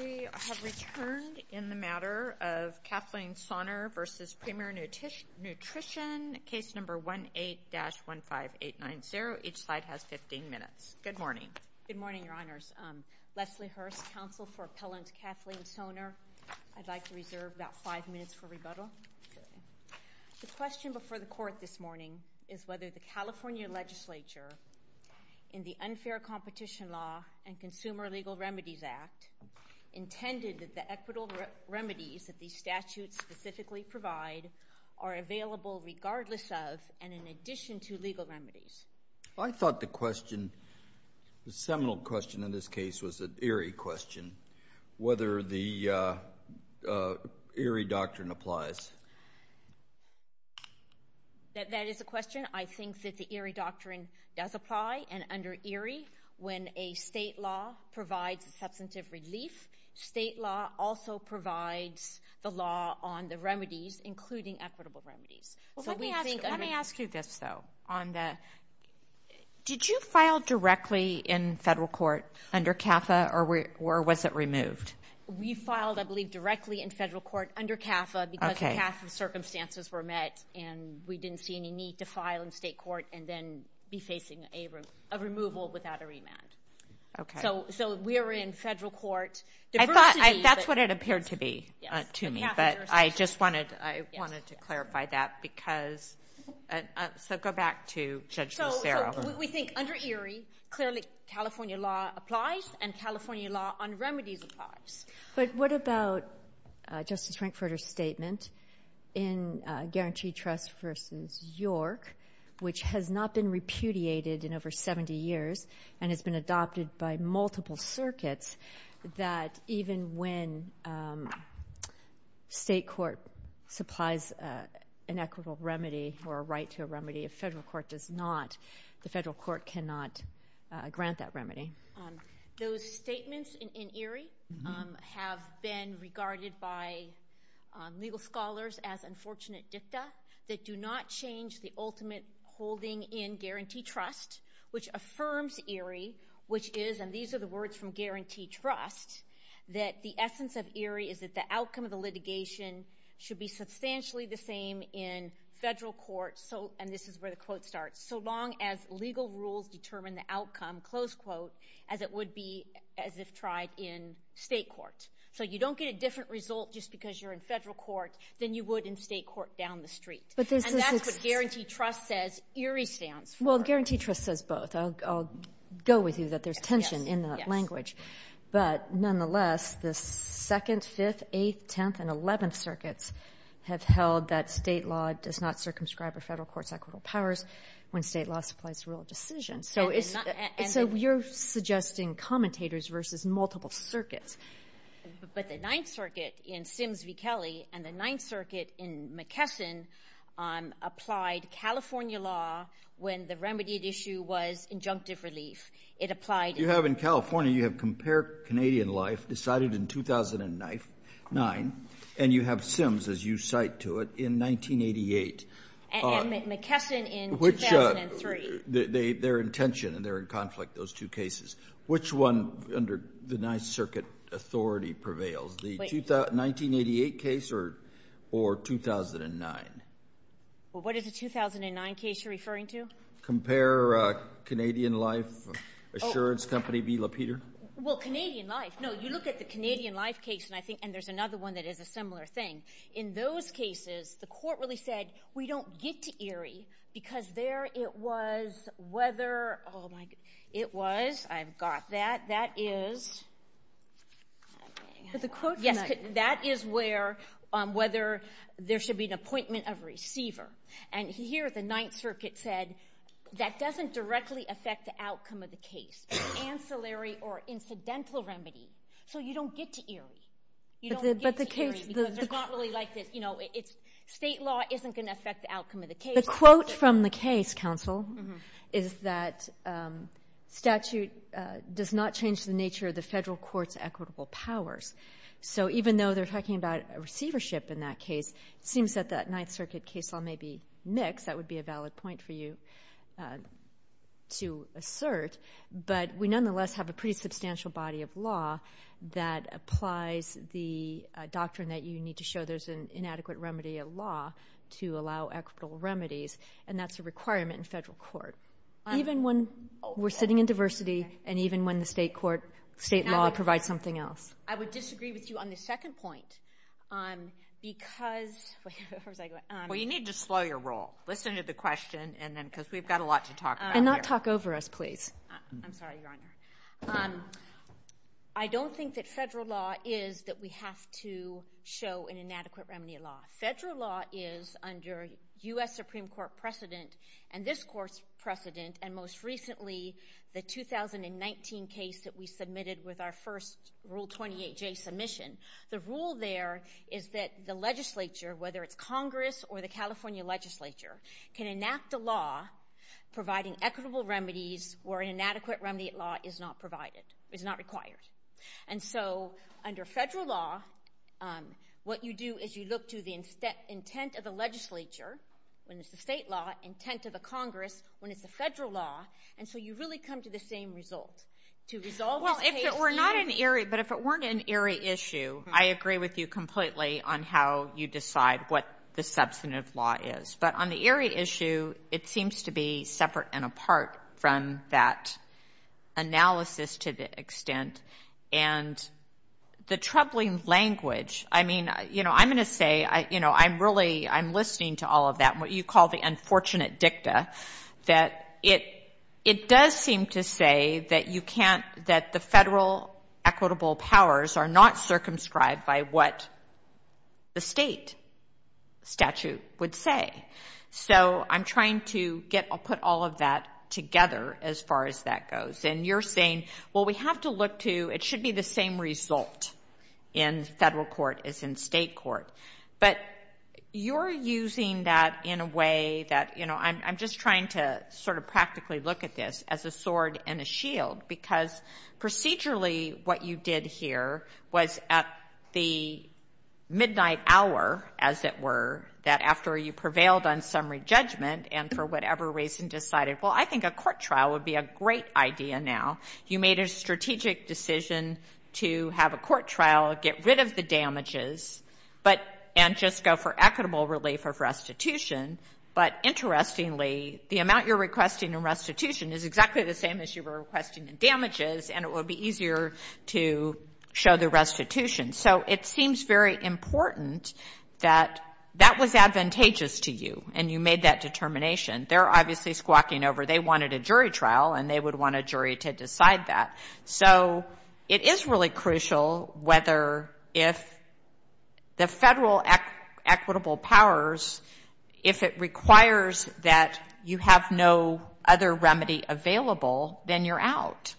We have returned in the matter of Kathleen Sonner v. Premier Nutrition, Case No. 18-15890. Each slide has 15 minutes. Good morning. Good morning, Your Honors. Leslie Hurst, Counsel for Appellant Kathleen Sonner. I'd like to reserve about five minutes for rebuttal. The question before the Court this morning is whether the California Legislature, in the Unfair Competition Law and Consumer Legal Remedies Act, intended that the equitable remedies that these statutes specifically provide are available regardless of and in addition to legal remedies. I thought the question, the seminal question in this case, was an eerie question, whether the eerie doctrine applies. That is a question. I think that the eerie doctrine does apply, and under eerie, when a state law provides substantive relief, state law also provides the law on the remedies, including equitable remedies. Let me ask you this, though. Did you file directly in federal court under CAFA, or was it removed? We filed, I believe, directly in federal court under CAFA because the CAFA circumstances were met, and we didn't see any need to file in state court and then be facing a removal without a remand. Okay. So we were in federal court. I thought that's what it appeared to be to me, but I just wanted to clarify that because So go back to Judge Lucero. We think under eerie, clearly, California law applies, and California law on remedies applies. But what about Justice Frankfurter's statement in Guaranteed Trust v. York, which has not been repudiated in over 70 years and has been adopted by multiple circuits, that even when state court supplies an equitable remedy or a right to a remedy, if federal court does not, the federal court cannot grant that remedy? Those statements in eerie have been regarded by legal scholars as unfortunate dicta that do not change the ultimate holding in Guaranteed Trust, which affirms eerie, which is, and should be substantially the same in federal court, and this is where the quote starts, so long as legal rules determine the outcome, as it would be as if tried in state court. So you don't get a different result just because you're in federal court than you would in state court down the street. And that's what Guaranteed Trust says eerie stands for. Well, Guaranteed Trust says both. I'll go with you that there's tension in that language. But nonetheless, the 2nd, 5th, 8th, 10th, and 11th circuits have held that state law does not circumscribe a federal court's equitable powers when state law supplies a rule of decision. So you're suggesting commentators versus multiple circuits. But the 9th circuit in Sims v. Kelly and the 9th circuit in McKesson applied California law when the remedied issue was injunctive relief. It applied. You have in California, you have Compare Canadian Life decided in 2009, and you have Sims, as you cite to it, in 1988. And McKesson in 2003. Their intention, and they're in conflict, those two cases. Which one under the 9th circuit authority prevails, the 1988 case or 2009? What is the 2009 case you're referring to? Compare Canadian Life Assurance Company v. LaPeter. Well, Canadian Life. No, you look at the Canadian Life case, and I think, and there's another one that is a similar thing. In those cases, the court really said, we don't get to Erie, because there it was whether, oh my, it was, I've got that. That is, I mean. But the court. Yes, that is where, whether there should be an appointment of receiver. And here, the 9th circuit said, that doesn't directly affect the outcome of the case. Ancillary or incidental remedy. So you don't get to Erie. You don't get to Erie, because they're not really like this. You know, state law isn't going to affect the outcome of the case. The quote from the case, counsel, is that statute does not change the nature of the federal court's equitable powers. So even though they're talking about receivership in that case, it seems that that 9th circuit case law may be mixed, that would be a valid point for you to assert. But we nonetheless have a pretty substantial body of law that applies the doctrine that you need to show there's an inadequate remedy of law to allow equitable remedies. And that's a requirement in federal court. Even when we're sitting in diversity, and even when the state court, state law provides something else. I would disagree with you on the second point. Because, where was I going? Well, you need to slow your roll. Listen to the question, and then, because we've got a lot to talk about here. And not talk over us, please. I'm sorry, Your Honor. I don't think that federal law is that we have to show an inadequate remedy of law. Federal law is under U.S. Supreme Court precedent, and this court's precedent, and most recently, the 2019 case that we submitted with our first Rule 28J submission. The rule there is that the legislature, whether it's Congress or the California legislature, can enact a law providing equitable remedies where an inadequate remedy of law is not provided, is not required. And so, under federal law, what you do is you look to the intent of the legislature, when it's the state law, intent of the Congress, when it's the federal law, and so you really come to the same result. Well, if it were not an eerie, but if it weren't an eerie issue, I agree with you completely on how you decide what the substantive law is. But on the eerie issue, it seems to be separate and apart from that analysis to the extent. And the troubling language, I mean, you know, I'm going to say, you know, I'm really, I'm listening to all of that, what you call the unfortunate dicta, that it does seem to say that you can't, that the federal equitable powers are not circumscribed by what the state statute would say. So, I'm trying to get, I'll put all of that together as far as that goes. And you're saying, well, we have to look to, it should be the same result in federal court as in state court. But you're using that in a way that, you know, I'm just trying to sort of practically look at this as a sword and a shield, because procedurally what you did here was at the midnight hour, as it were, that after you prevailed on summary judgment and for whatever reason decided, well, I think a court trial would be a great idea now. You made a strategic decision to have a court trial, get rid of the damages. But, and just go for equitable relief of restitution, but interestingly, the amount you're requesting in restitution is exactly the same as you were requesting in damages, and it would be easier to show the restitution. So, it seems very important that that was advantageous to you, and you made that determination. They're obviously squawking over, they wanted a jury trial, and they would want a jury to decide that. So, it is really crucial whether if the federal equitable powers, if it requires that you have no other remedy available, then you're out.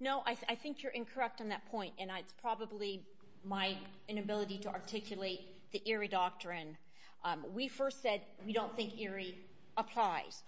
No, I think you're incorrect on that point, and it's probably my inability to articulate the Erie Doctrine. We first said we don't think Erie applies.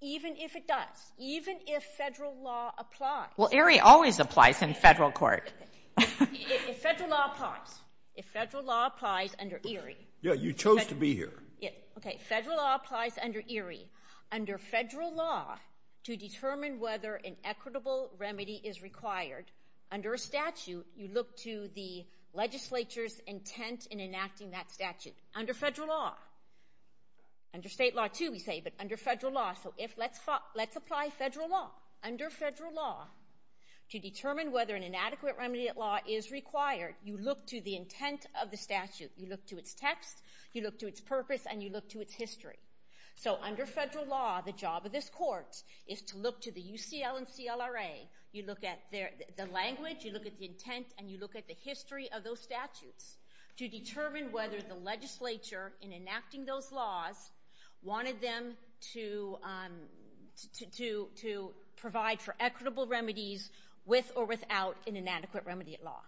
Even if it does, even if federal law applies. Well, Erie always applies in federal court. If federal law applies, if federal law applies under Erie. Yeah, you chose to be here. Yeah, okay, federal law applies under Erie. Under federal law, to determine whether an equitable remedy is required, under a statute, you look to the legislature's intent in enacting that statute. Under federal law. Under state law, too, we say, but under federal law. So, let's apply federal law. Under federal law, to determine whether an inadequate remedy at law is required, you look to the intent of the statute. You look to its text, you look to its purpose, and you look to its history. So, under federal law, the job of this court is to look to the UCL and CLRA. You look at the language, you look at the intent, and you look at the history of those statutes to determine whether the legislature, in enacting those laws, wanted them to provide for equitable remedies with or without an inadequate remedy at law.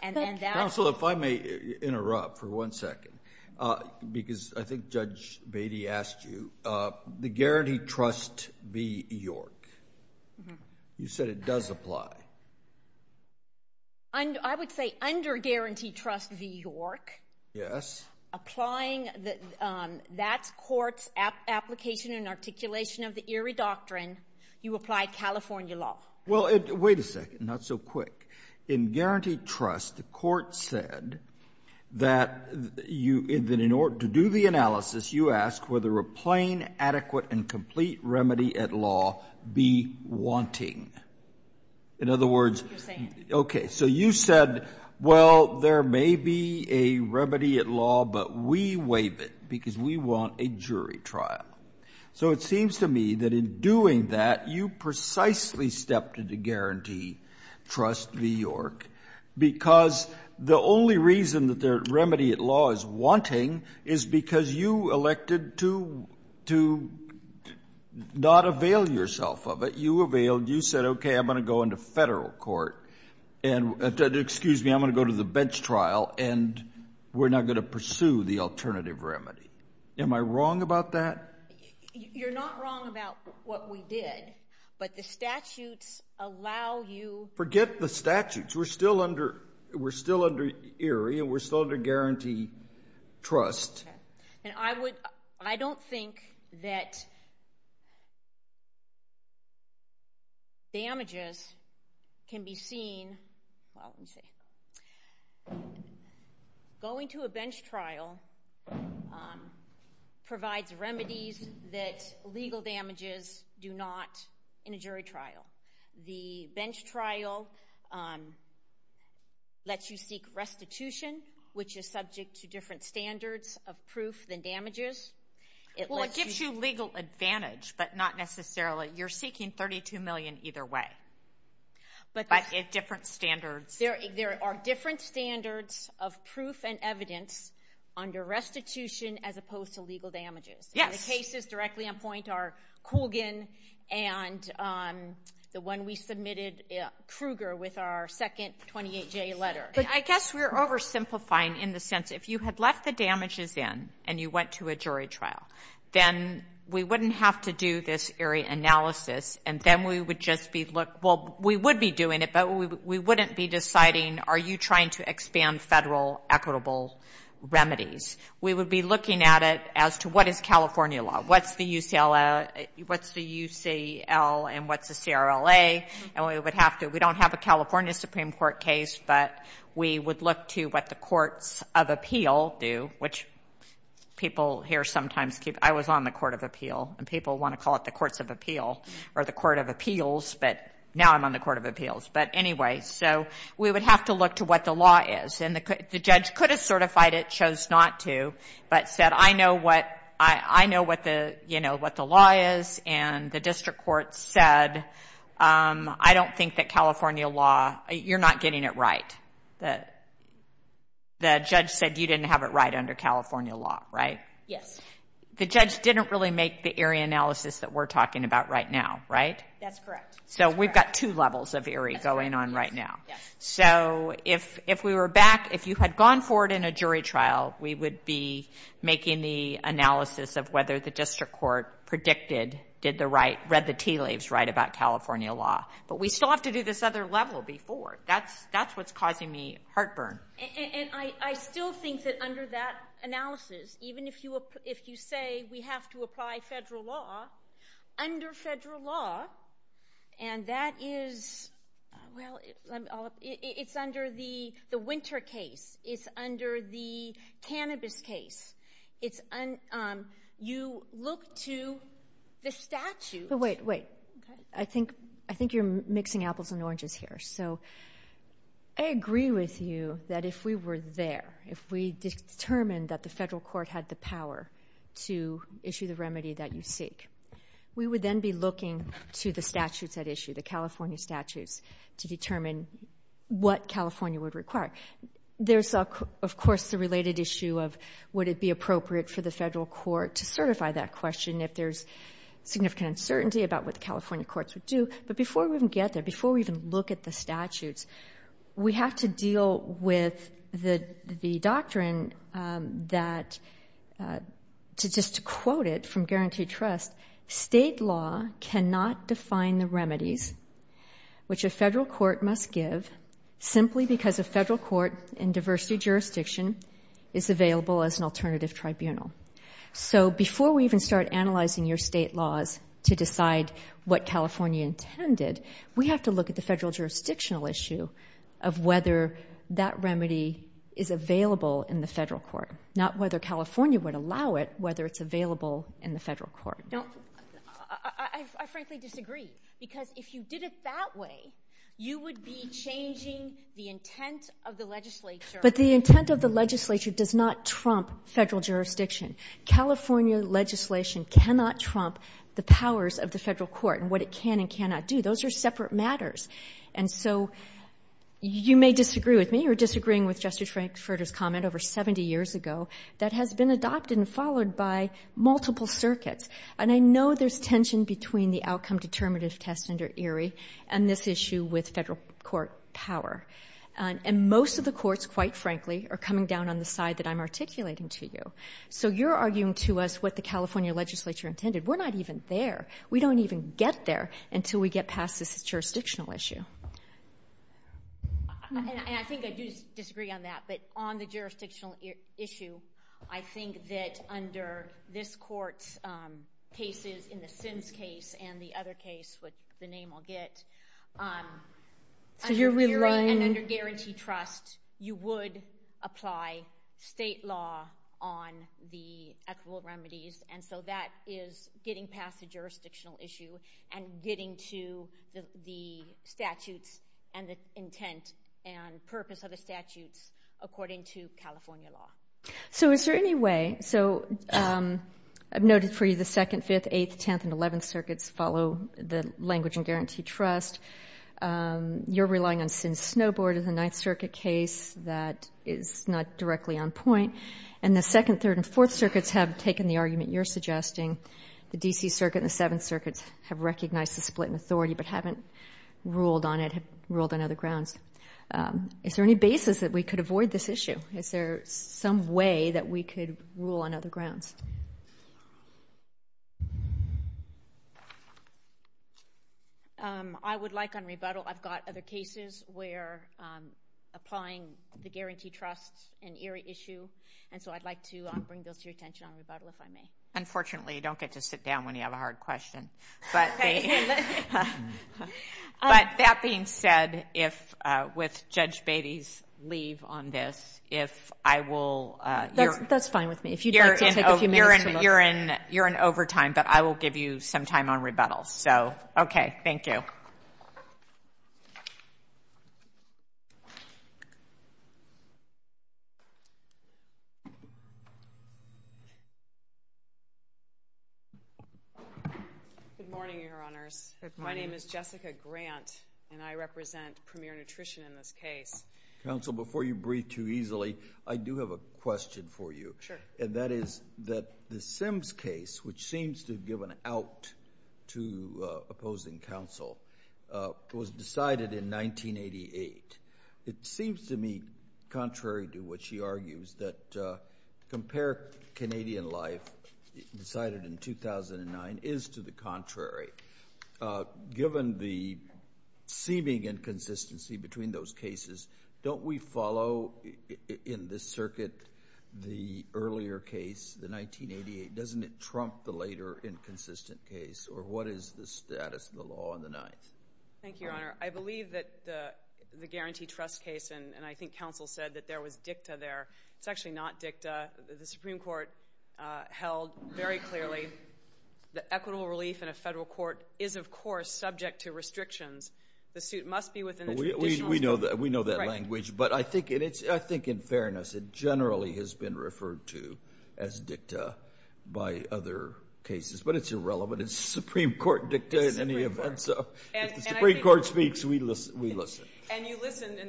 Thank you. Counsel, if I may interrupt for one second, because I think Judge Beatty asked you, the guaranteed trust be York. You said it does apply. I would say under guaranteed trust be York. Yes. Applying that court's application and articulation of the Erie Doctrine, you apply California law. Well, wait a second. Not so quick. In guaranteed trust, the court said that in order to do the analysis, you ask whether a plain, adequate, and complete remedy at law be wanting. In other words, okay, so you said, well, there may be a remedy at law, but we waive it because we want a jury trial. So it seems to me that in doing that, you precisely stepped into guaranteed trust be York because the only reason that the remedy at law is wanting is because you elected to not avail yourself of it. So you availed. You said, okay, I'm going to go into federal court. Excuse me, I'm going to go to the bench trial, and we're not going to pursue the alternative remedy. Am I wrong about that? You're not wrong about what we did, but the statutes allow you. Forget the statutes. We're still under Erie, and we're still under guaranteed trust. I don't think that damages can be seen. Going to a bench trial provides remedies that legal damages do not in a jury trial. The bench trial lets you seek restitution, which is subject to different standards of proof than damages. Well, it gives you legal advantage, but not necessarily. You're seeking $32 million either way, but at different standards. There are different standards of proof and evidence under restitution as opposed to legal damages. Yes. The cases directly on point are Coogan and the one we submitted, Krueger, with our second 28-J letter. I guess we're oversimplifying in the sense if you had left the damages in and you went to a jury trial, then we wouldn't have to do this Erie analysis, and then we would just be looking. Well, we would be doing it, but we wouldn't be deciding are you trying to expand federal equitable remedies. We would be looking at it as to what is California law. What's the UCL and what's the CRLA, and we would have to. We don't have a California Supreme Court case, but we would look to what the courts of appeal do, which people here sometimes keep. I was on the court of appeal, and people want to call it the courts of appeal or the court of appeals, but now I'm on the court of appeals. But anyway, so we would have to look to what the law is. And the judge could have certified it, chose not to, but said I know what the law is, and the district court said I don't think that California law, you're not getting it right. The judge said you didn't have it right under California law, right? Yes. The judge didn't really make the Erie analysis that we're talking about right now, right? That's correct. So we've got two levels of Erie going on right now. Yes. So if we were back, if you had gone forward in a jury trial, we would be making the analysis of whether the district court predicted, did the right, read the tea leaves right about California law. But we still have to do this other level before. That's what's causing me heartburn. And I still think that under that analysis, even if you say we have to apply federal law, under federal law, and that is, well, it's under the winter case. It's under the cannabis case. You look to the statute. Wait, wait. I think you're mixing apples and oranges here. So I agree with you that if we were there, if we determined that the federal court had the power to issue the remedy that you seek, we would then be looking to the statutes at issue, the California statutes, to determine what California would require. There's, of course, the related issue of would it be appropriate for the federal court to certify that question if there's significant uncertainty about what the California courts would do. But before we even get there, before we even look at the statutes, we have to deal with the doctrine that, just to quote it from Guaranteed Trust, state law cannot define the remedies which a federal court must give simply because a federal court in diversity jurisdiction is available as an alternative tribunal. So before we even start analyzing your state laws to decide what California intended, we have to look at the federal jurisdictional issue of whether that remedy is available in the federal court, not whether California would allow it, whether it's available in the federal court. Now, I frankly disagree, because if you did it that way, you would be changing the intent of the legislature. But the intent of the legislature does not trump federal jurisdiction. California legislation cannot trump the powers of the federal court and what it can and cannot do. Those are separate matters. And so you may disagree with me or disagreeing with Justice Frankfurter's comment over 70 years ago that has been adopted and followed by multiple circuits. And I know there's tension between the outcome determinative test under Erie and this issue with federal court power. And most of the courts, quite frankly, are coming down on the side that I'm articulating to you. So you're arguing to us what the California legislature intended. We're not even there. We don't even get there until we get past this jurisdictional issue. And I think I do disagree on that, but on the jurisdictional issue, I think that under this court's cases in the Sims case and the other case, which the name I'll get, under jury and under guarantee trust, you would apply state law on the equitable remedies. And so that is getting past the jurisdictional issue and getting to the statutes and the intent and purpose of the statutes according to California law. So is there any way? So I've noted for you the second, fifth, eighth, tenth, and eleventh circuits follow the language in guarantee trust. You're relying on Sims-Snowboard in the Ninth Circuit case. That is not directly on point. And the second, third, and fourth circuits have taken the argument you're suggesting. The D.C. Circuit and the Seventh Circuit have recognized the split in authority but haven't ruled on it, have ruled on other grounds. Is there any basis that we could avoid this issue? Is there some way that we could rule on other grounds? I would like on rebuttal. I've got other cases where applying the guarantee trust is an eerie issue, and so I'd like to bring those to your attention on rebuttal if I may. Unfortunately, you don't get to sit down when you have a hard question. But that being said, with Judge Beatty's leave on this, if I will... That's fine with me. If you'd like to take a few minutes to look... You're in overtime, but I will give you some time on rebuttal. Okay. Thank you. Good morning, Your Honors. My name is Jessica Grant, and I represent Premier Nutrition in this case. Counsel, before you breathe too easily, I do have a question for you. Sure. And that is that the Sims case, which seems to have given out to opposing counsel, was decided in 1988. It seems to me, contrary to what she argues, that Compare Canadian Life, decided in 2009, is to the contrary. Given the seeming inconsistency between those cases, don't we follow in this circuit the earlier case, the 1988? Doesn't it trump the later inconsistent case? Or what is the status of the law in the ninth? Thank you, Your Honor. I believe that the guarantee trust case, and I think counsel said that there was dicta there. It's actually not dicta. The Supreme Court held very clearly that equitable relief in a federal court is, of course, subject to restrictions. The suit must be within the traditional scope. We know that language, but I think in fairness, it generally has been referred to as dicta by other cases. But it's irrelevant. It's the Supreme Court dicta in any event. So if the Supreme Court speaks, we listen. And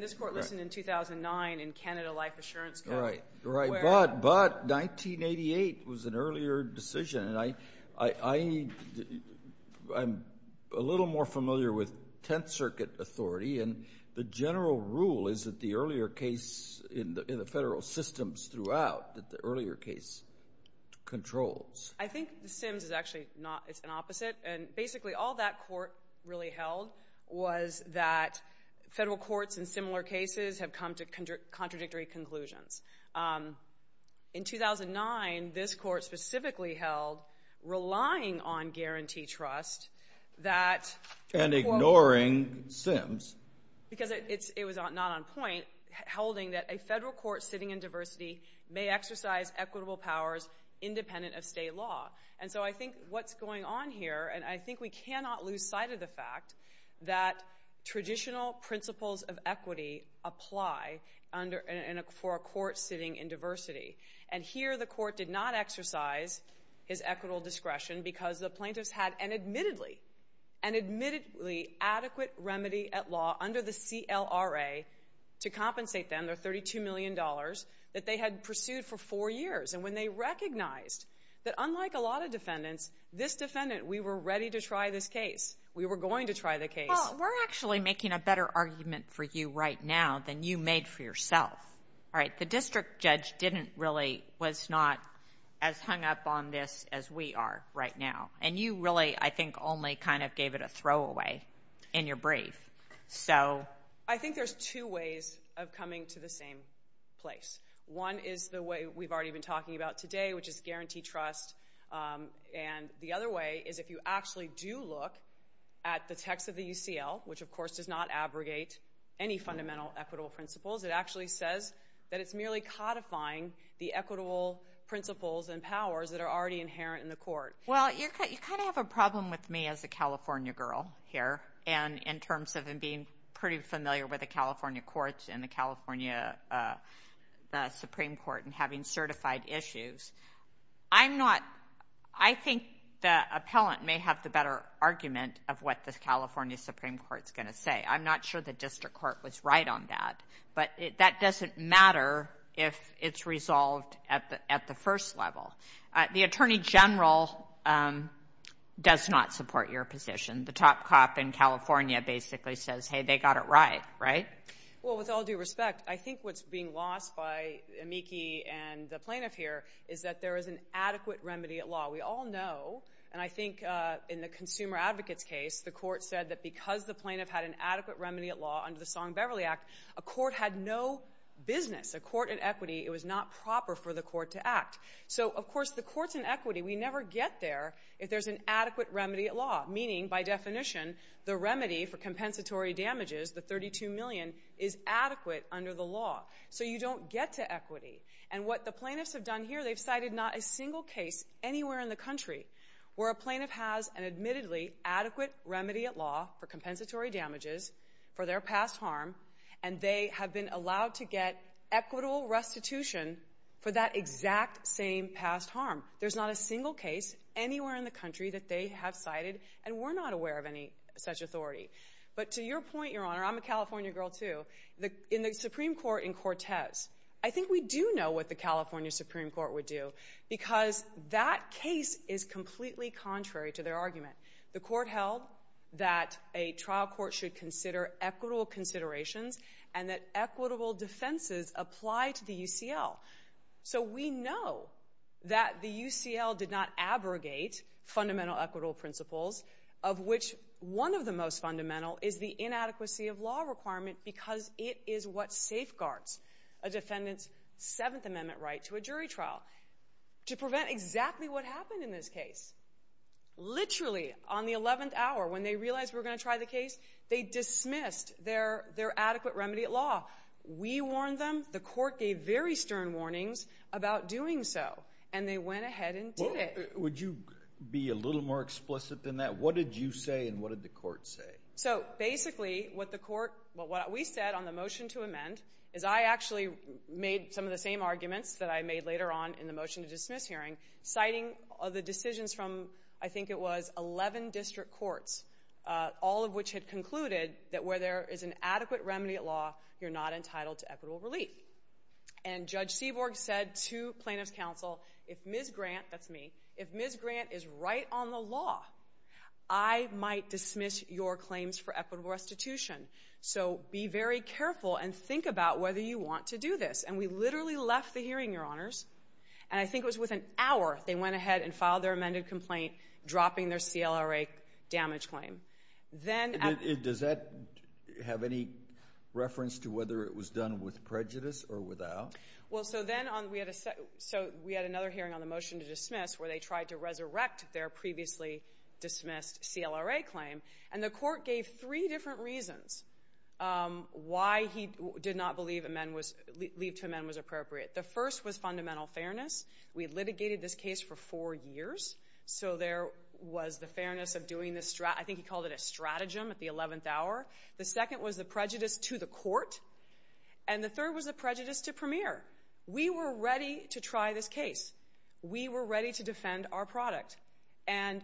this Court listened in 2009 in Canada Life Assurance Code. Right, but 1988 was an earlier decision. And I'm a little more familiar with Tenth Circuit authority, and the general rule is that the earlier case in the federal systems throughout, that the earlier case controls. I think the Sims is actually an opposite, and basically all that court really held was that federal courts in similar cases have come to contradictory conclusions. In 2009, this court specifically held relying on guarantee trust that And ignoring Sims. Because it was not on point, holding that a federal court sitting in diversity may exercise equitable powers independent of state law. And so I think what's going on here, and I think we cannot lose sight of the fact that traditional principles of And here the court did not exercise his equitable discretion because the plaintiffs had an admittedly adequate remedy at law under the CLRA to compensate them, their $32 million, that they had pursued for four years. And when they recognized that unlike a lot of defendants, this defendant, we were ready to try this case. We were going to try the case. Well, we're actually making a better argument for you right now than you made for yourself. All right, the district judge didn't really, was not as hung up on this as we are right now. And you really, I think, only kind of gave it a throwaway in your brief. So... I think there's two ways of coming to the same place. One is the way we've already been talking about today, which is guarantee trust. And the other way is if you actually do look at the text of the UCL, which of course does not abrogate any fundamental equitable principles, it actually says that it's merely codifying the equitable principles and powers that are already inherent in the court. Well, you kind of have a problem with me as a California girl here in terms of being pretty familiar with the California courts and the California Supreme Court and having certified issues. I'm not, I think the appellant may have the better argument of what the California Supreme Court is going to say. I'm not sure the district court was right on that. But that doesn't matter if it's resolved at the first level. The attorney general does not support your position. The top cop in California basically says, hey, they got it right, right? Well, with all due respect, I think what's being lost by Amiki and the plaintiff here is that there is an adequate remedy at law. We all know, and I think in the consumer advocate's case, the court said that because the plaintiff had an adequate remedy at law under the Song-Beverly Act, a court had no business. A court in equity, it was not proper for the court to act. So, of course, the courts in equity, we never get there if there's an adequate remedy at law. Meaning, by definition, the remedy for compensatory damages, the $32 million, is adequate under the law. So you don't get to equity. And what the plaintiffs have done here, they've cited not a single case anywhere in the country where a plaintiff has an admittedly adequate remedy at law for compensatory damages for their past harm, and they have been allowed to get equitable restitution for that exact same past harm. There's not a single case anywhere in the country that they have cited, and we're not aware of any such authority. But to your point, Your Honor, I'm a California girl too. In the Supreme Court in Cortez, I think we do know what the California Supreme Court would do because that case is completely contrary to their argument. The court held that a trial court should consider equitable considerations and that equitable defenses apply to the UCL. So we know that the UCL did not abrogate fundamental equitable principles, of which one of the most fundamental is the inadequacy of law requirement because it is what safeguards a defendant's Seventh Amendment right to a jury trial. To prevent exactly what happened in this case, literally on the 11th hour, when they realized we were going to try the case, they dismissed their adequate remedy at law. We warned them. The court gave very stern warnings about doing so, and they went ahead and did it. Would you be a little more explicit than that? What did you say, and what did the court say? So basically, what we said on the motion to amend is I actually made some of the same arguments that I made later on in the motion to dismiss hearing, citing the decisions from, I think it was, 11 district courts, all of which had concluded that where there is an adequate remedy at law, you're not entitled to equitable relief. And Judge Seaborg said to plaintiff's counsel, if Ms. Grant, that's me, if Ms. Grant is right on the law, I might dismiss your claims for equitable restitution. So be very careful and think about whether you want to do this. And we literally left the hearing, Your Honors, and I think it was within an hour they went ahead and filed their amended complaint, dropping their CLRA damage claim. Does that have any reference to whether it was done with prejudice or without? Well, so then we had another hearing on the motion to dismiss where they tried to resurrect their previously dismissed CLRA claim, and the court gave three different reasons why he did not believe leave to amend was appropriate. The first was fundamental fairness. We had litigated this case for four years, so there was the fairness of doing this, I think he called it a stratagem at the 11th hour. The second was the prejudice to the court, and the third was the prejudice to Premier. We were ready to try this case. We were ready to defend our product. And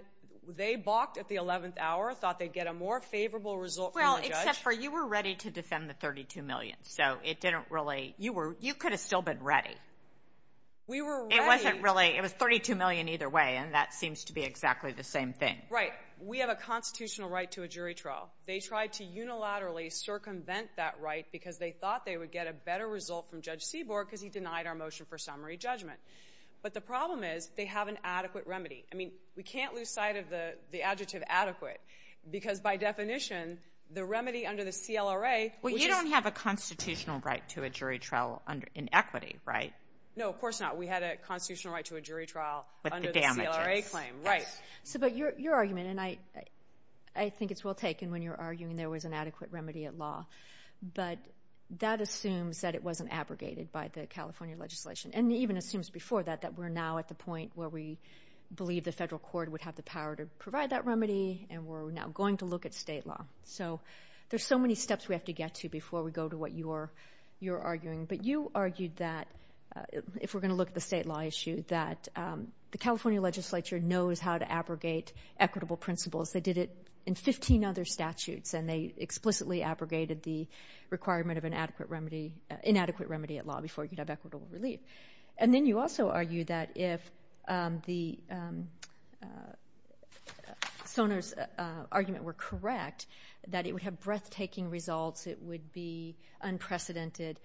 they balked at the 11th hour, thought they'd get a more favorable result from the judge. Well, except for you were ready to defend the $32 million, so it didn't really, you could have still been ready. We were ready. It wasn't really, it was $32 million either way, and that seems to be exactly the same thing. Right. We have a constitutional right to a jury trial. They tried to unilaterally circumvent that right because they thought they would get a better result from Judge Seaborg because he denied our motion for summary judgment. But the problem is they have an adequate remedy. I mean, we can't lose sight of the adjective adequate because by definition the remedy under the CLRA, which is we have a constitutional right to a jury trial in equity, right? No, of course not. We had a constitutional right to a jury trial under the CLRA claim. Right. But your argument, and I think it's well taken when you're arguing there was an adequate remedy at law, but that assumes that it wasn't abrogated by the California legislation and even assumes before that that we're now at the point where we believe the federal court would have the power to provide that remedy and we're now going to look at state law. So there's so many steps we have to get to before we go to what you're arguing. But you argued that, if we're going to look at the state law issue, that the California legislature knows how to abrogate equitable principles. They did it in 15 other statutes, and they explicitly abrogated the requirement of an inadequate remedy at law before you'd have equitable relief. And then you also argued that if Soner's argument were correct, that it would have breathtaking results. It would be unprecedented.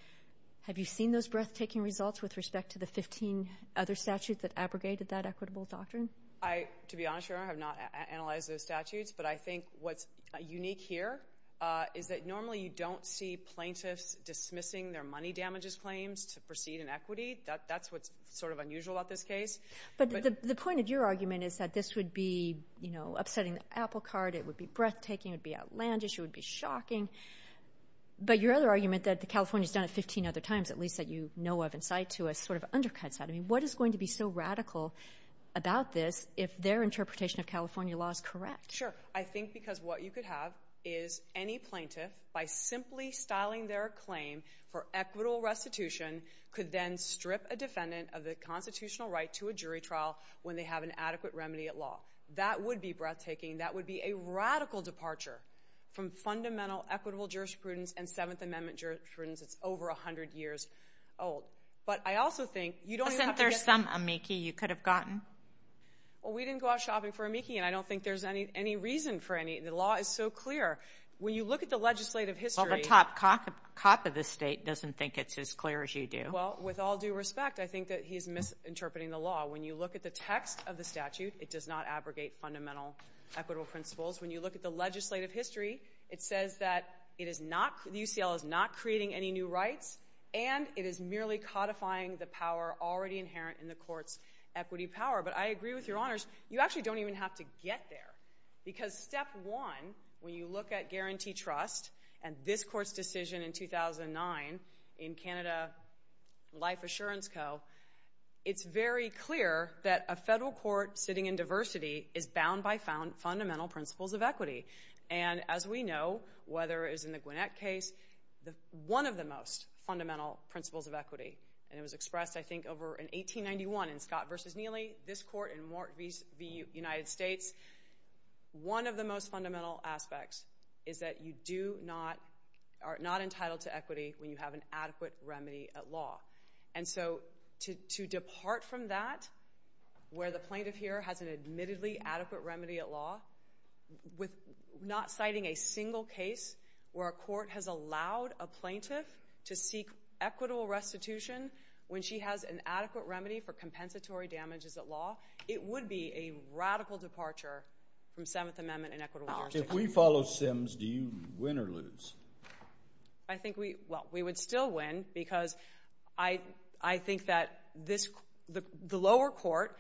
Have you seen those breathtaking results with respect to the 15 other statutes that abrogated that equitable doctrine? To be honest, Your Honor, I have not analyzed those statutes, but I think what's unique here is that normally you don't see plaintiffs dismissing their money damages claims to proceed in equity. That's what's sort of unusual about this case. But the point of your argument is that this would be upsetting the apple cart. It would be breathtaking. It would be outlandish. It would be shocking. But your other argument that California's done it 15 other times, at least that you know of and cite to us, sort of undercuts that. I mean, what is going to be so radical about this if their interpretation of California law is correct? Sure. I think because what you could have is any plaintiff, by simply styling their claim for equitable restitution, could then strip a defendant of the constitutional right to a jury trial when they have an adequate remedy at law. That would be breathtaking. That would be a radical departure from fundamental equitable jurisprudence and Seventh Amendment jurisprudence that's over 100 years old. But I also think you don't even have to get to that. But there's some amici you could have gotten. Well, we didn't go out shopping for amici, and I don't think there's any reason for any. The law is so clear. When you look at the legislative history— Well, the top cop of the state doesn't think it's as clear as you do. Well, with all due respect, I think that he's misinterpreting the law. When you look at the text of the statute, it does not abrogate fundamental equitable principles. When you look at the legislative history, it says that the UCL is not creating any new rights, and it is merely codifying the power already inherent in the court's equity power. But I agree with Your Honors. You actually don't even have to get there, because step one, when you look at guarantee trust and this court's decision in 2009 in Canada Life Assurance Co., it's very clear that a federal court sitting in diversity is bound by fundamental principles of equity. And as we know, whether it was in the Gwinnett case, one of the most fundamental principles of equity, and it was expressed, I think, over in 1891 in Scott v. Neely, this court in Mort v. United States, one of the most fundamental aspects is that you are not entitled to equity when you have an adequate remedy at law. And so to depart from that, where the plaintiff here has an admittedly adequate remedy at law, not citing a single case where a court has allowed a plaintiff to seek equitable restitution when she has an adequate remedy for compensatory damages at law, it would be a radical departure from Seventh Amendment and equitable jurisdiction. If we follow Sims, do you win or lose? I think we would still win, because I think that the lower court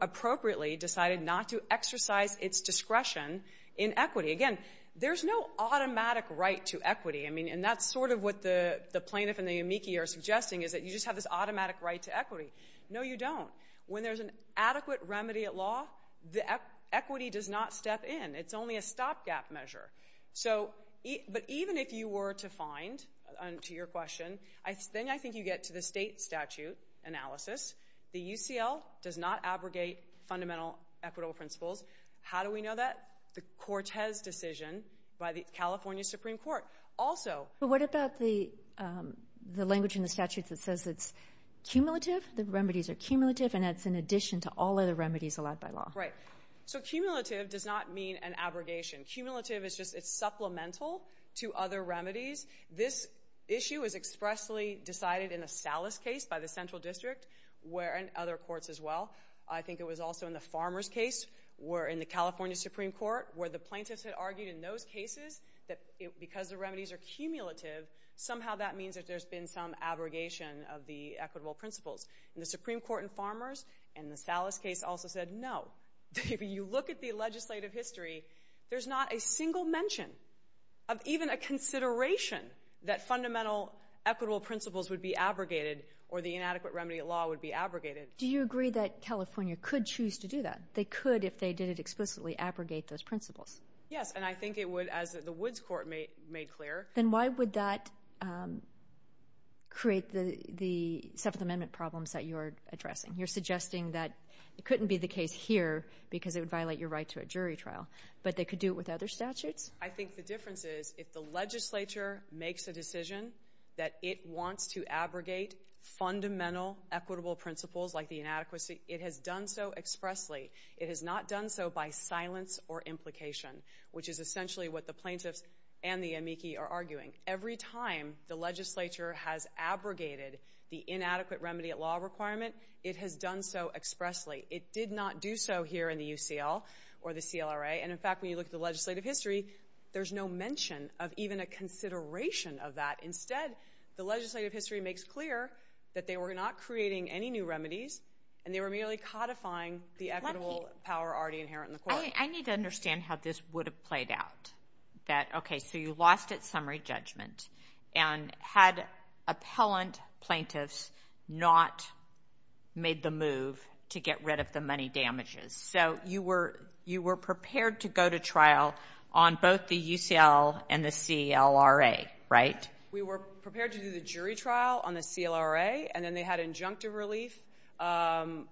appropriately decided not to exercise its discretion in equity. Again, there's no automatic right to equity, and that's sort of what the plaintiff and the amici are suggesting, is that you just have this automatic right to equity. No, you don't. When there's an adequate remedy at law, equity does not step in. It's only a stopgap measure. But even if you were to find, to your question, then I think you get to the state statute analysis. The UCL does not abrogate fundamental equitable principles. How do we know that? The Cortez decision by the California Supreme Court also. But what about the language in the statute that says it's cumulative, the remedies are cumulative, and it's in addition to all other remedies allowed by law? Right. So cumulative does not mean an abrogation. Cumulative is just it's supplemental to other remedies. This issue is expressly decided in the Salas case by the Central District, and other courts as well. I think it was also in the Farmer's case, or in the California Supreme Court, where the plaintiffs had argued in those cases that because the remedies are cumulative, somehow that means that there's been some abrogation of the equitable principles. And the Supreme Court in Farmer's and the Salas case also said no. If you look at the legislative history, there's not a single mention of even a consideration that fundamental equitable principles would be abrogated or the inadequate remedy at law would be abrogated. Do you agree that California could choose to do that? They could if they didn't explicitly abrogate those principles. Yes, and I think it would, as the Woods Court made clear. Then why would that create the Seventh Amendment problems that you're addressing? You're suggesting that it couldn't be the case here because it would violate your right to a jury trial, but they could do it with other statutes? I think the difference is if the legislature makes a decision that it wants to abrogate fundamental equitable principles like the inadequacy, it has done so expressly. It has not done so by silence or implication, which is essentially what the plaintiffs and the amici are arguing. Every time the legislature has abrogated the inadequate remedy at law requirement, it has done so expressly. It did not do so here in the UCL or the CLRA. And, in fact, when you look at the legislative history, there's no mention of even a consideration of that. Instead, the legislative history makes clear that they were not creating any new remedies, and they were merely codifying the equitable power already inherent in the court. I need to understand how this would have played out. Okay, so you lost its summary judgment and had appellant plaintiffs not made the move to get rid of the money damages. So you were prepared to go to trial on both the UCL and the CLRA, right? We were prepared to do the jury trial on the CLRA, and then they had injunctive relief and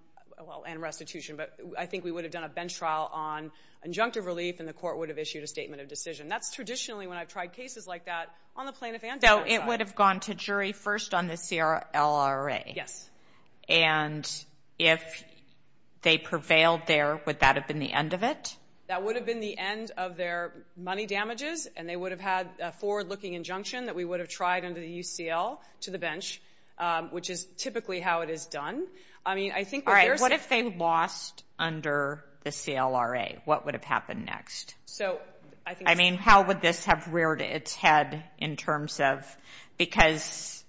restitution. But I think we would have done a bench trial on injunctive relief, and the court would have issued a statement of decision. That's traditionally when I've tried cases like that on the plaintiff and defense side. So it would have gone to jury first on the CLRA? Yes. And if they prevailed there, would that have been the end of it? That would have been the end of their money damages, and they would have had a forward-looking injunction that we would have tried under the UCL to the bench, which is typically how it is done. All right, what if they lost under the CLRA? What would have happened next? I mean, how would this have reared its head in terms of because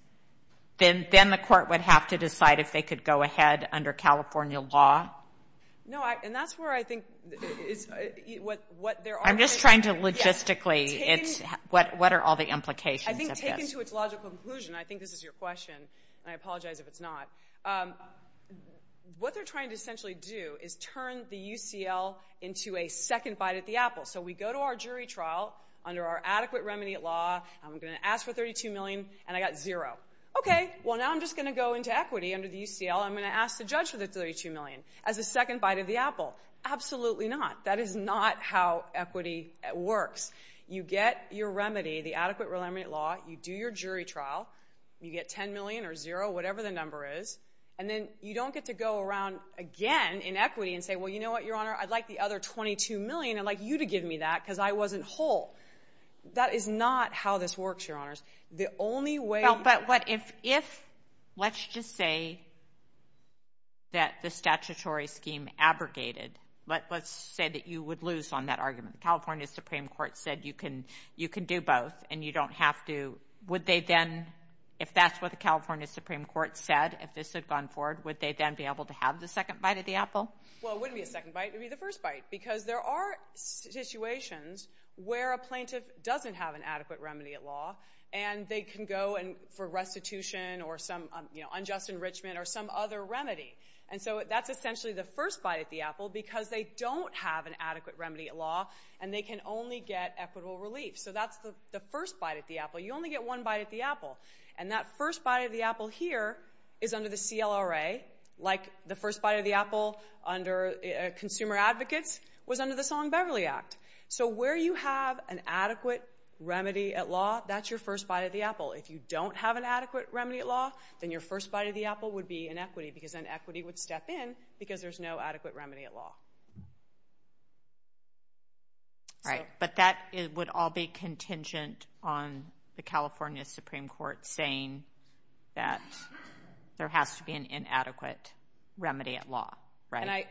then the court would have to decide if they could go ahead under California law? No, and that's where I think what there are... I'm just trying to logistically, what are all the implications of this? I think this is your question, and I apologize if it's not. What they're trying to essentially do is turn the UCL into a second bite at the apple. So we go to our jury trial under our adequate remediate law. I'm going to ask for $32 million, and I got zero. Okay, well, now I'm just going to go into equity under the UCL. I'm going to ask the judge for the $32 million as a second bite at the apple. Absolutely not. That is not how equity works. You get your remedy, the adequate remediate law. You do your jury trial. You get $10 million or zero, whatever the number is. And then you don't get to go around again in equity and say, well, you know what, Your Honor, I'd like the other $22 million. I'd like you to give me that because I wasn't whole. That is not how this works, Your Honors. The only way... But what if, let's just say that the statutory scheme abrogated. Let's say that you would lose on that argument. The California Supreme Court said you can do both and you don't have to. Would they then, if that's what the California Supreme Court said, if this had gone forward, would they then be able to have the second bite at the apple? Well, it wouldn't be a second bite. It would be the first bite because there are situations where a plaintiff doesn't have an adequate remediate law, and they can go for restitution or some unjust enrichment or some other remedy. And so that's essentially the first bite at the apple because they don't have an adequate remediate law and they can only get equitable relief. So that's the first bite at the apple. You only get one bite at the apple. And that first bite at the apple here is under the CLRA, like the first bite at the apple under Consumer Advocates was under the Song-Beverly Act. So where you have an adequate remedy at law, that's your first bite at the apple. If you don't have an adequate remedy at law, then your first bite at the apple would be in equity because then equity would step in because there's no adequate remedy at law. Right, but that would all be contingent on the California Supreme Court saying that there has to be an inadequate remedy at law, right?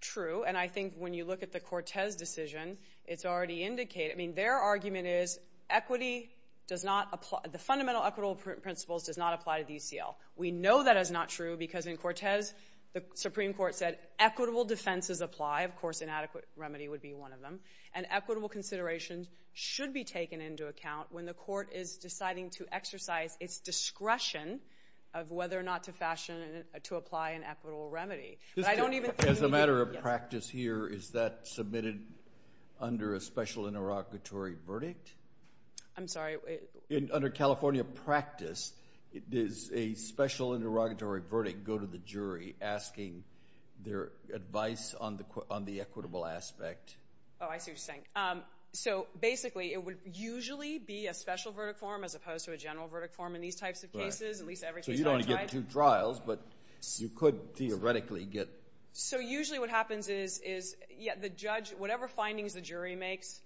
True, and I think when you look at the Cortez decision, it's already indicated. I mean, their argument is equity does not apply. The fundamental equitable principles does not apply to the UCL. We know that is not true because in Cortez, the Supreme Court said equitable defenses apply. Of course, inadequate remedy would be one of them. And equitable considerations should be taken into account when the court is deciding to exercise its discretion of whether or not to fashion, to apply an equitable remedy. But I don't even think... As a matter of practice here, is that submitted under a special interlocutory verdict? I'm sorry? Under California practice, does a special interlocutory verdict go to the jury asking their advice on the equitable aspect? Oh, I see what you're saying. So basically, it would usually be a special verdict form as opposed to a general verdict form in these types of cases. So you don't want to get two trials, but you could theoretically get... So usually what happens is the judge, whatever findings the jury makes,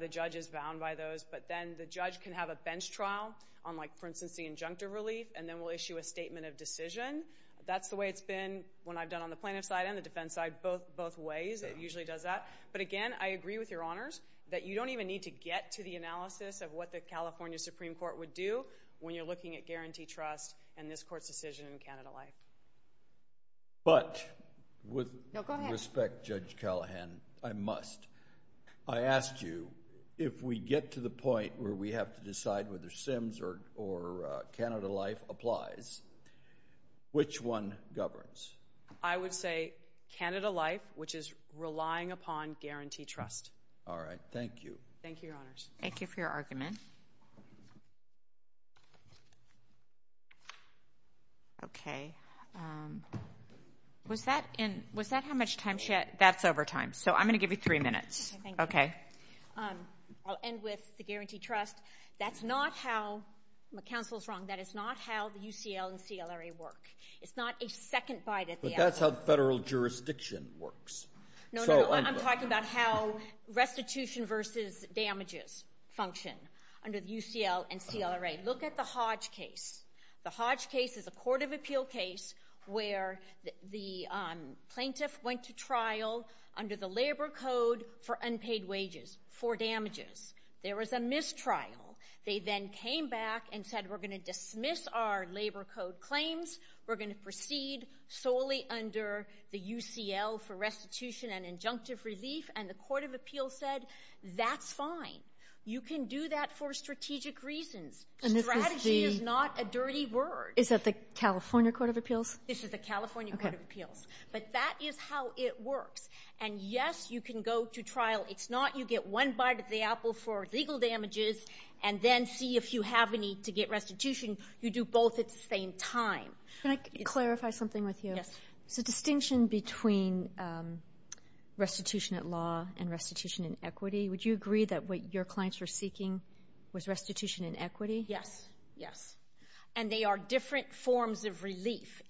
the judge is bound by those, but then the judge can have a bench trial on, like, for instance, the injunctive relief, and then will issue a statement of decision. That's the way it's been when I've done on the plaintiff side and the defense side, both ways. It usually does that. But again, I agree with Your Honours that you don't even need to get to the analysis of what the California Supreme Court would do when you're looking at guarantee trust and this court's decision in Canada Life. But with respect, Judge Callahan, I must. I ask you, if we get to the point where we have to decide whether CIMS or Canada Life applies, which one governs? I would say Canada Life, which is relying upon guarantee trust. All right. Thank you. Thank you, Your Honours. Thank you for your argument. Okay. Was that how much time she had? That's over time, so I'm going to give you three minutes. Okay. I'll end with the guarantee trust. That's not how the council's wrong. That is not how the UCL and CLRA work. It's not a second bite at the apple. But that's how federal jurisdiction works. No, no, no. I'm talking about how restitution versus damages function under the UCL and CLRA. Look at the Hodge case. The Hodge case is a court of appeal case where the plaintiff went to trial under the Labour Code for unpaid wages, for damages. There was a mistrial. They then came back and said, we're going to dismiss our Labour Code claims. We're going to proceed solely under the UCL for restitution and injunctive relief. And the court of appeal said, that's fine. You can do that for strategic reasons. Strategy is not a dirty word. Is that the California court of appeals? This is the California court of appeals. But that is how it works. And yes, you can go to trial. It's not you get one bite at the apple for legal damages and then see if you have any to get restitution. You do both at the same time. Can I clarify something with you? Yes. It's a distinction between restitution at law and restitution in equity. Would you agree that what your clients were seeking was restitution in equity? Yes, yes. And they are different forms of relief.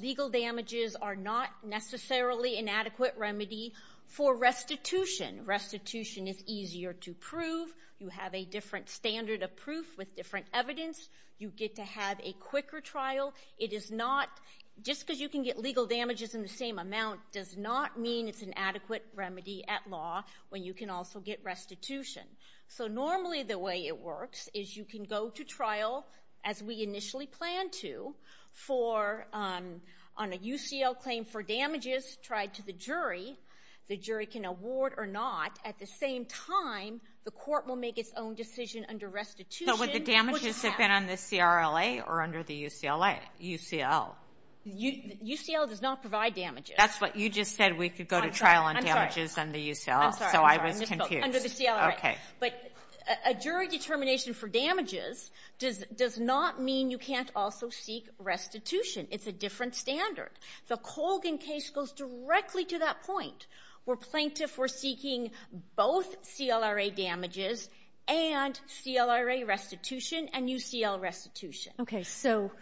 Legal damages are not necessarily an adequate remedy for restitution. Restitution is easier to prove. You have a different standard of proof with different evidence. You get to have a quicker trial. It is not, just because you can get legal damages in the same amount does not mean it's an adequate remedy at law when you can also get restitution. So normally the way it works is you can go to trial, as we initially planned to, on a UCL claim for damages tried to the jury. The jury can award or not. At the same time, the court will make its own decision under restitution. So would the damages have been on the CRLA or under the UCLA? UCL. UCL does not provide damages. That's what you just said. We could go to trial on damages under UCLA. I'm sorry. So I was confused. Under the CRLA. But a jury determination for damages does not mean you can't also seek restitution. It's a different standard. The Colgan case goes directly to that point where plaintiffs were seeking both CLRA damages and CLRA restitution and UCL restitution. Okay, so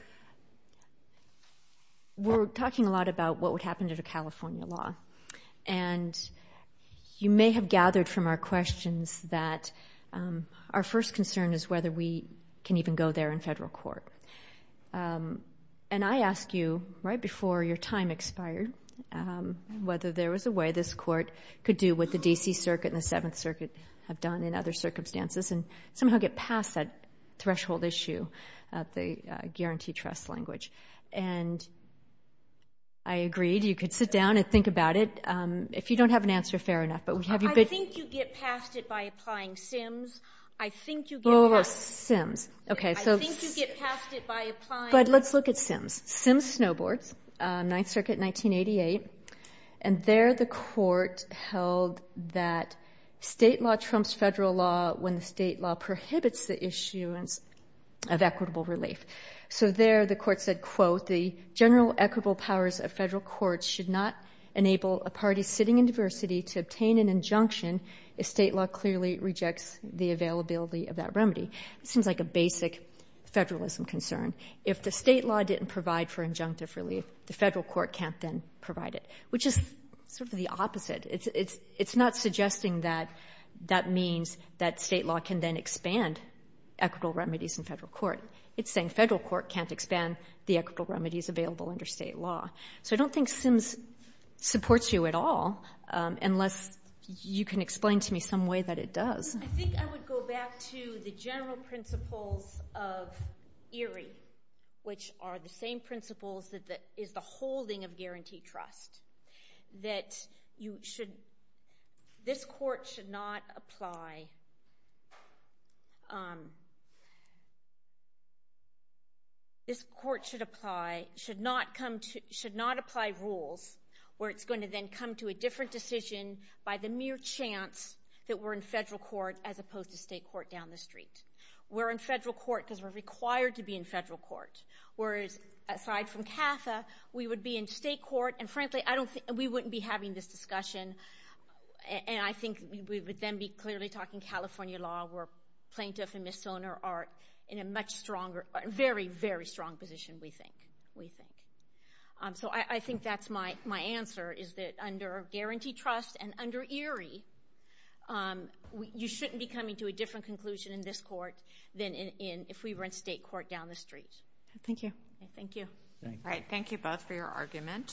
we're talking a lot about what would happen to the California law. And you may have gathered from our questions that our first concern is whether we can even go there in federal court. And I asked you, right before your time expired, whether there was a way this court could do what the D.C. Circuit and the Seventh Circuit have done in other circumstances and somehow get past that threshold issue of the guarantee trust language. And I agreed. You could sit down and think about it. If you don't have an answer, fair enough. I think you get past it by applying Sims. Oh, Sims. I think you get past it by applying... But let's look at Sims. Sims snowboards, Ninth Circuit, 1988. And there the court held that state law trumps federal law when the state law prohibits the issuance of equitable relief. So there the court said, quote, the general equitable powers of federal court should not enable a party sitting in diversity to obtain an injunction if state law clearly rejects the availability of that remedy. It seems like a basic federalism concern. If the state law didn't provide for injunctive relief, the federal court can't then provide it, which is sort of the opposite. It's not suggesting that that means that state law can then expand equitable remedies in federal court. It's saying federal court can't expand the equitable remedies available under state law. So I don't think Sims supports you at all. Unless you can explain to me some way that it does. I think I would go back to the general principles of ERI, which are the same principles that is the holding of guaranteed trust. That you should... This court should not apply... This court should apply... Should not apply rules where it's going to then come to a different decision by the mere chance that we're in federal court as opposed to state court down the street. We're in federal court because we're required to be in federal court. Whereas, aside from CAFA, we would be in state court, and frankly, I don't think... We wouldn't be having this discussion, and I think we would then be clearly talking California law where plaintiffs and misdemeanors are in a much stronger... Very, very strong position, we think. So I think that's my answer, is that under guaranteed trust and under ERI, you shouldn't be coming to a different conclusion in this court than if we were in state court down the street. Thank you. Thank you. All right, thank you both for your argument.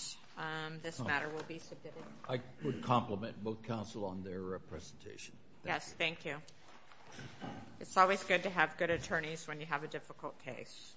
This matter will be submitted. I would compliment both counsel on their presentation. Yes, thank you. It's always good to have good attorneys when you have a difficult case. Thank you.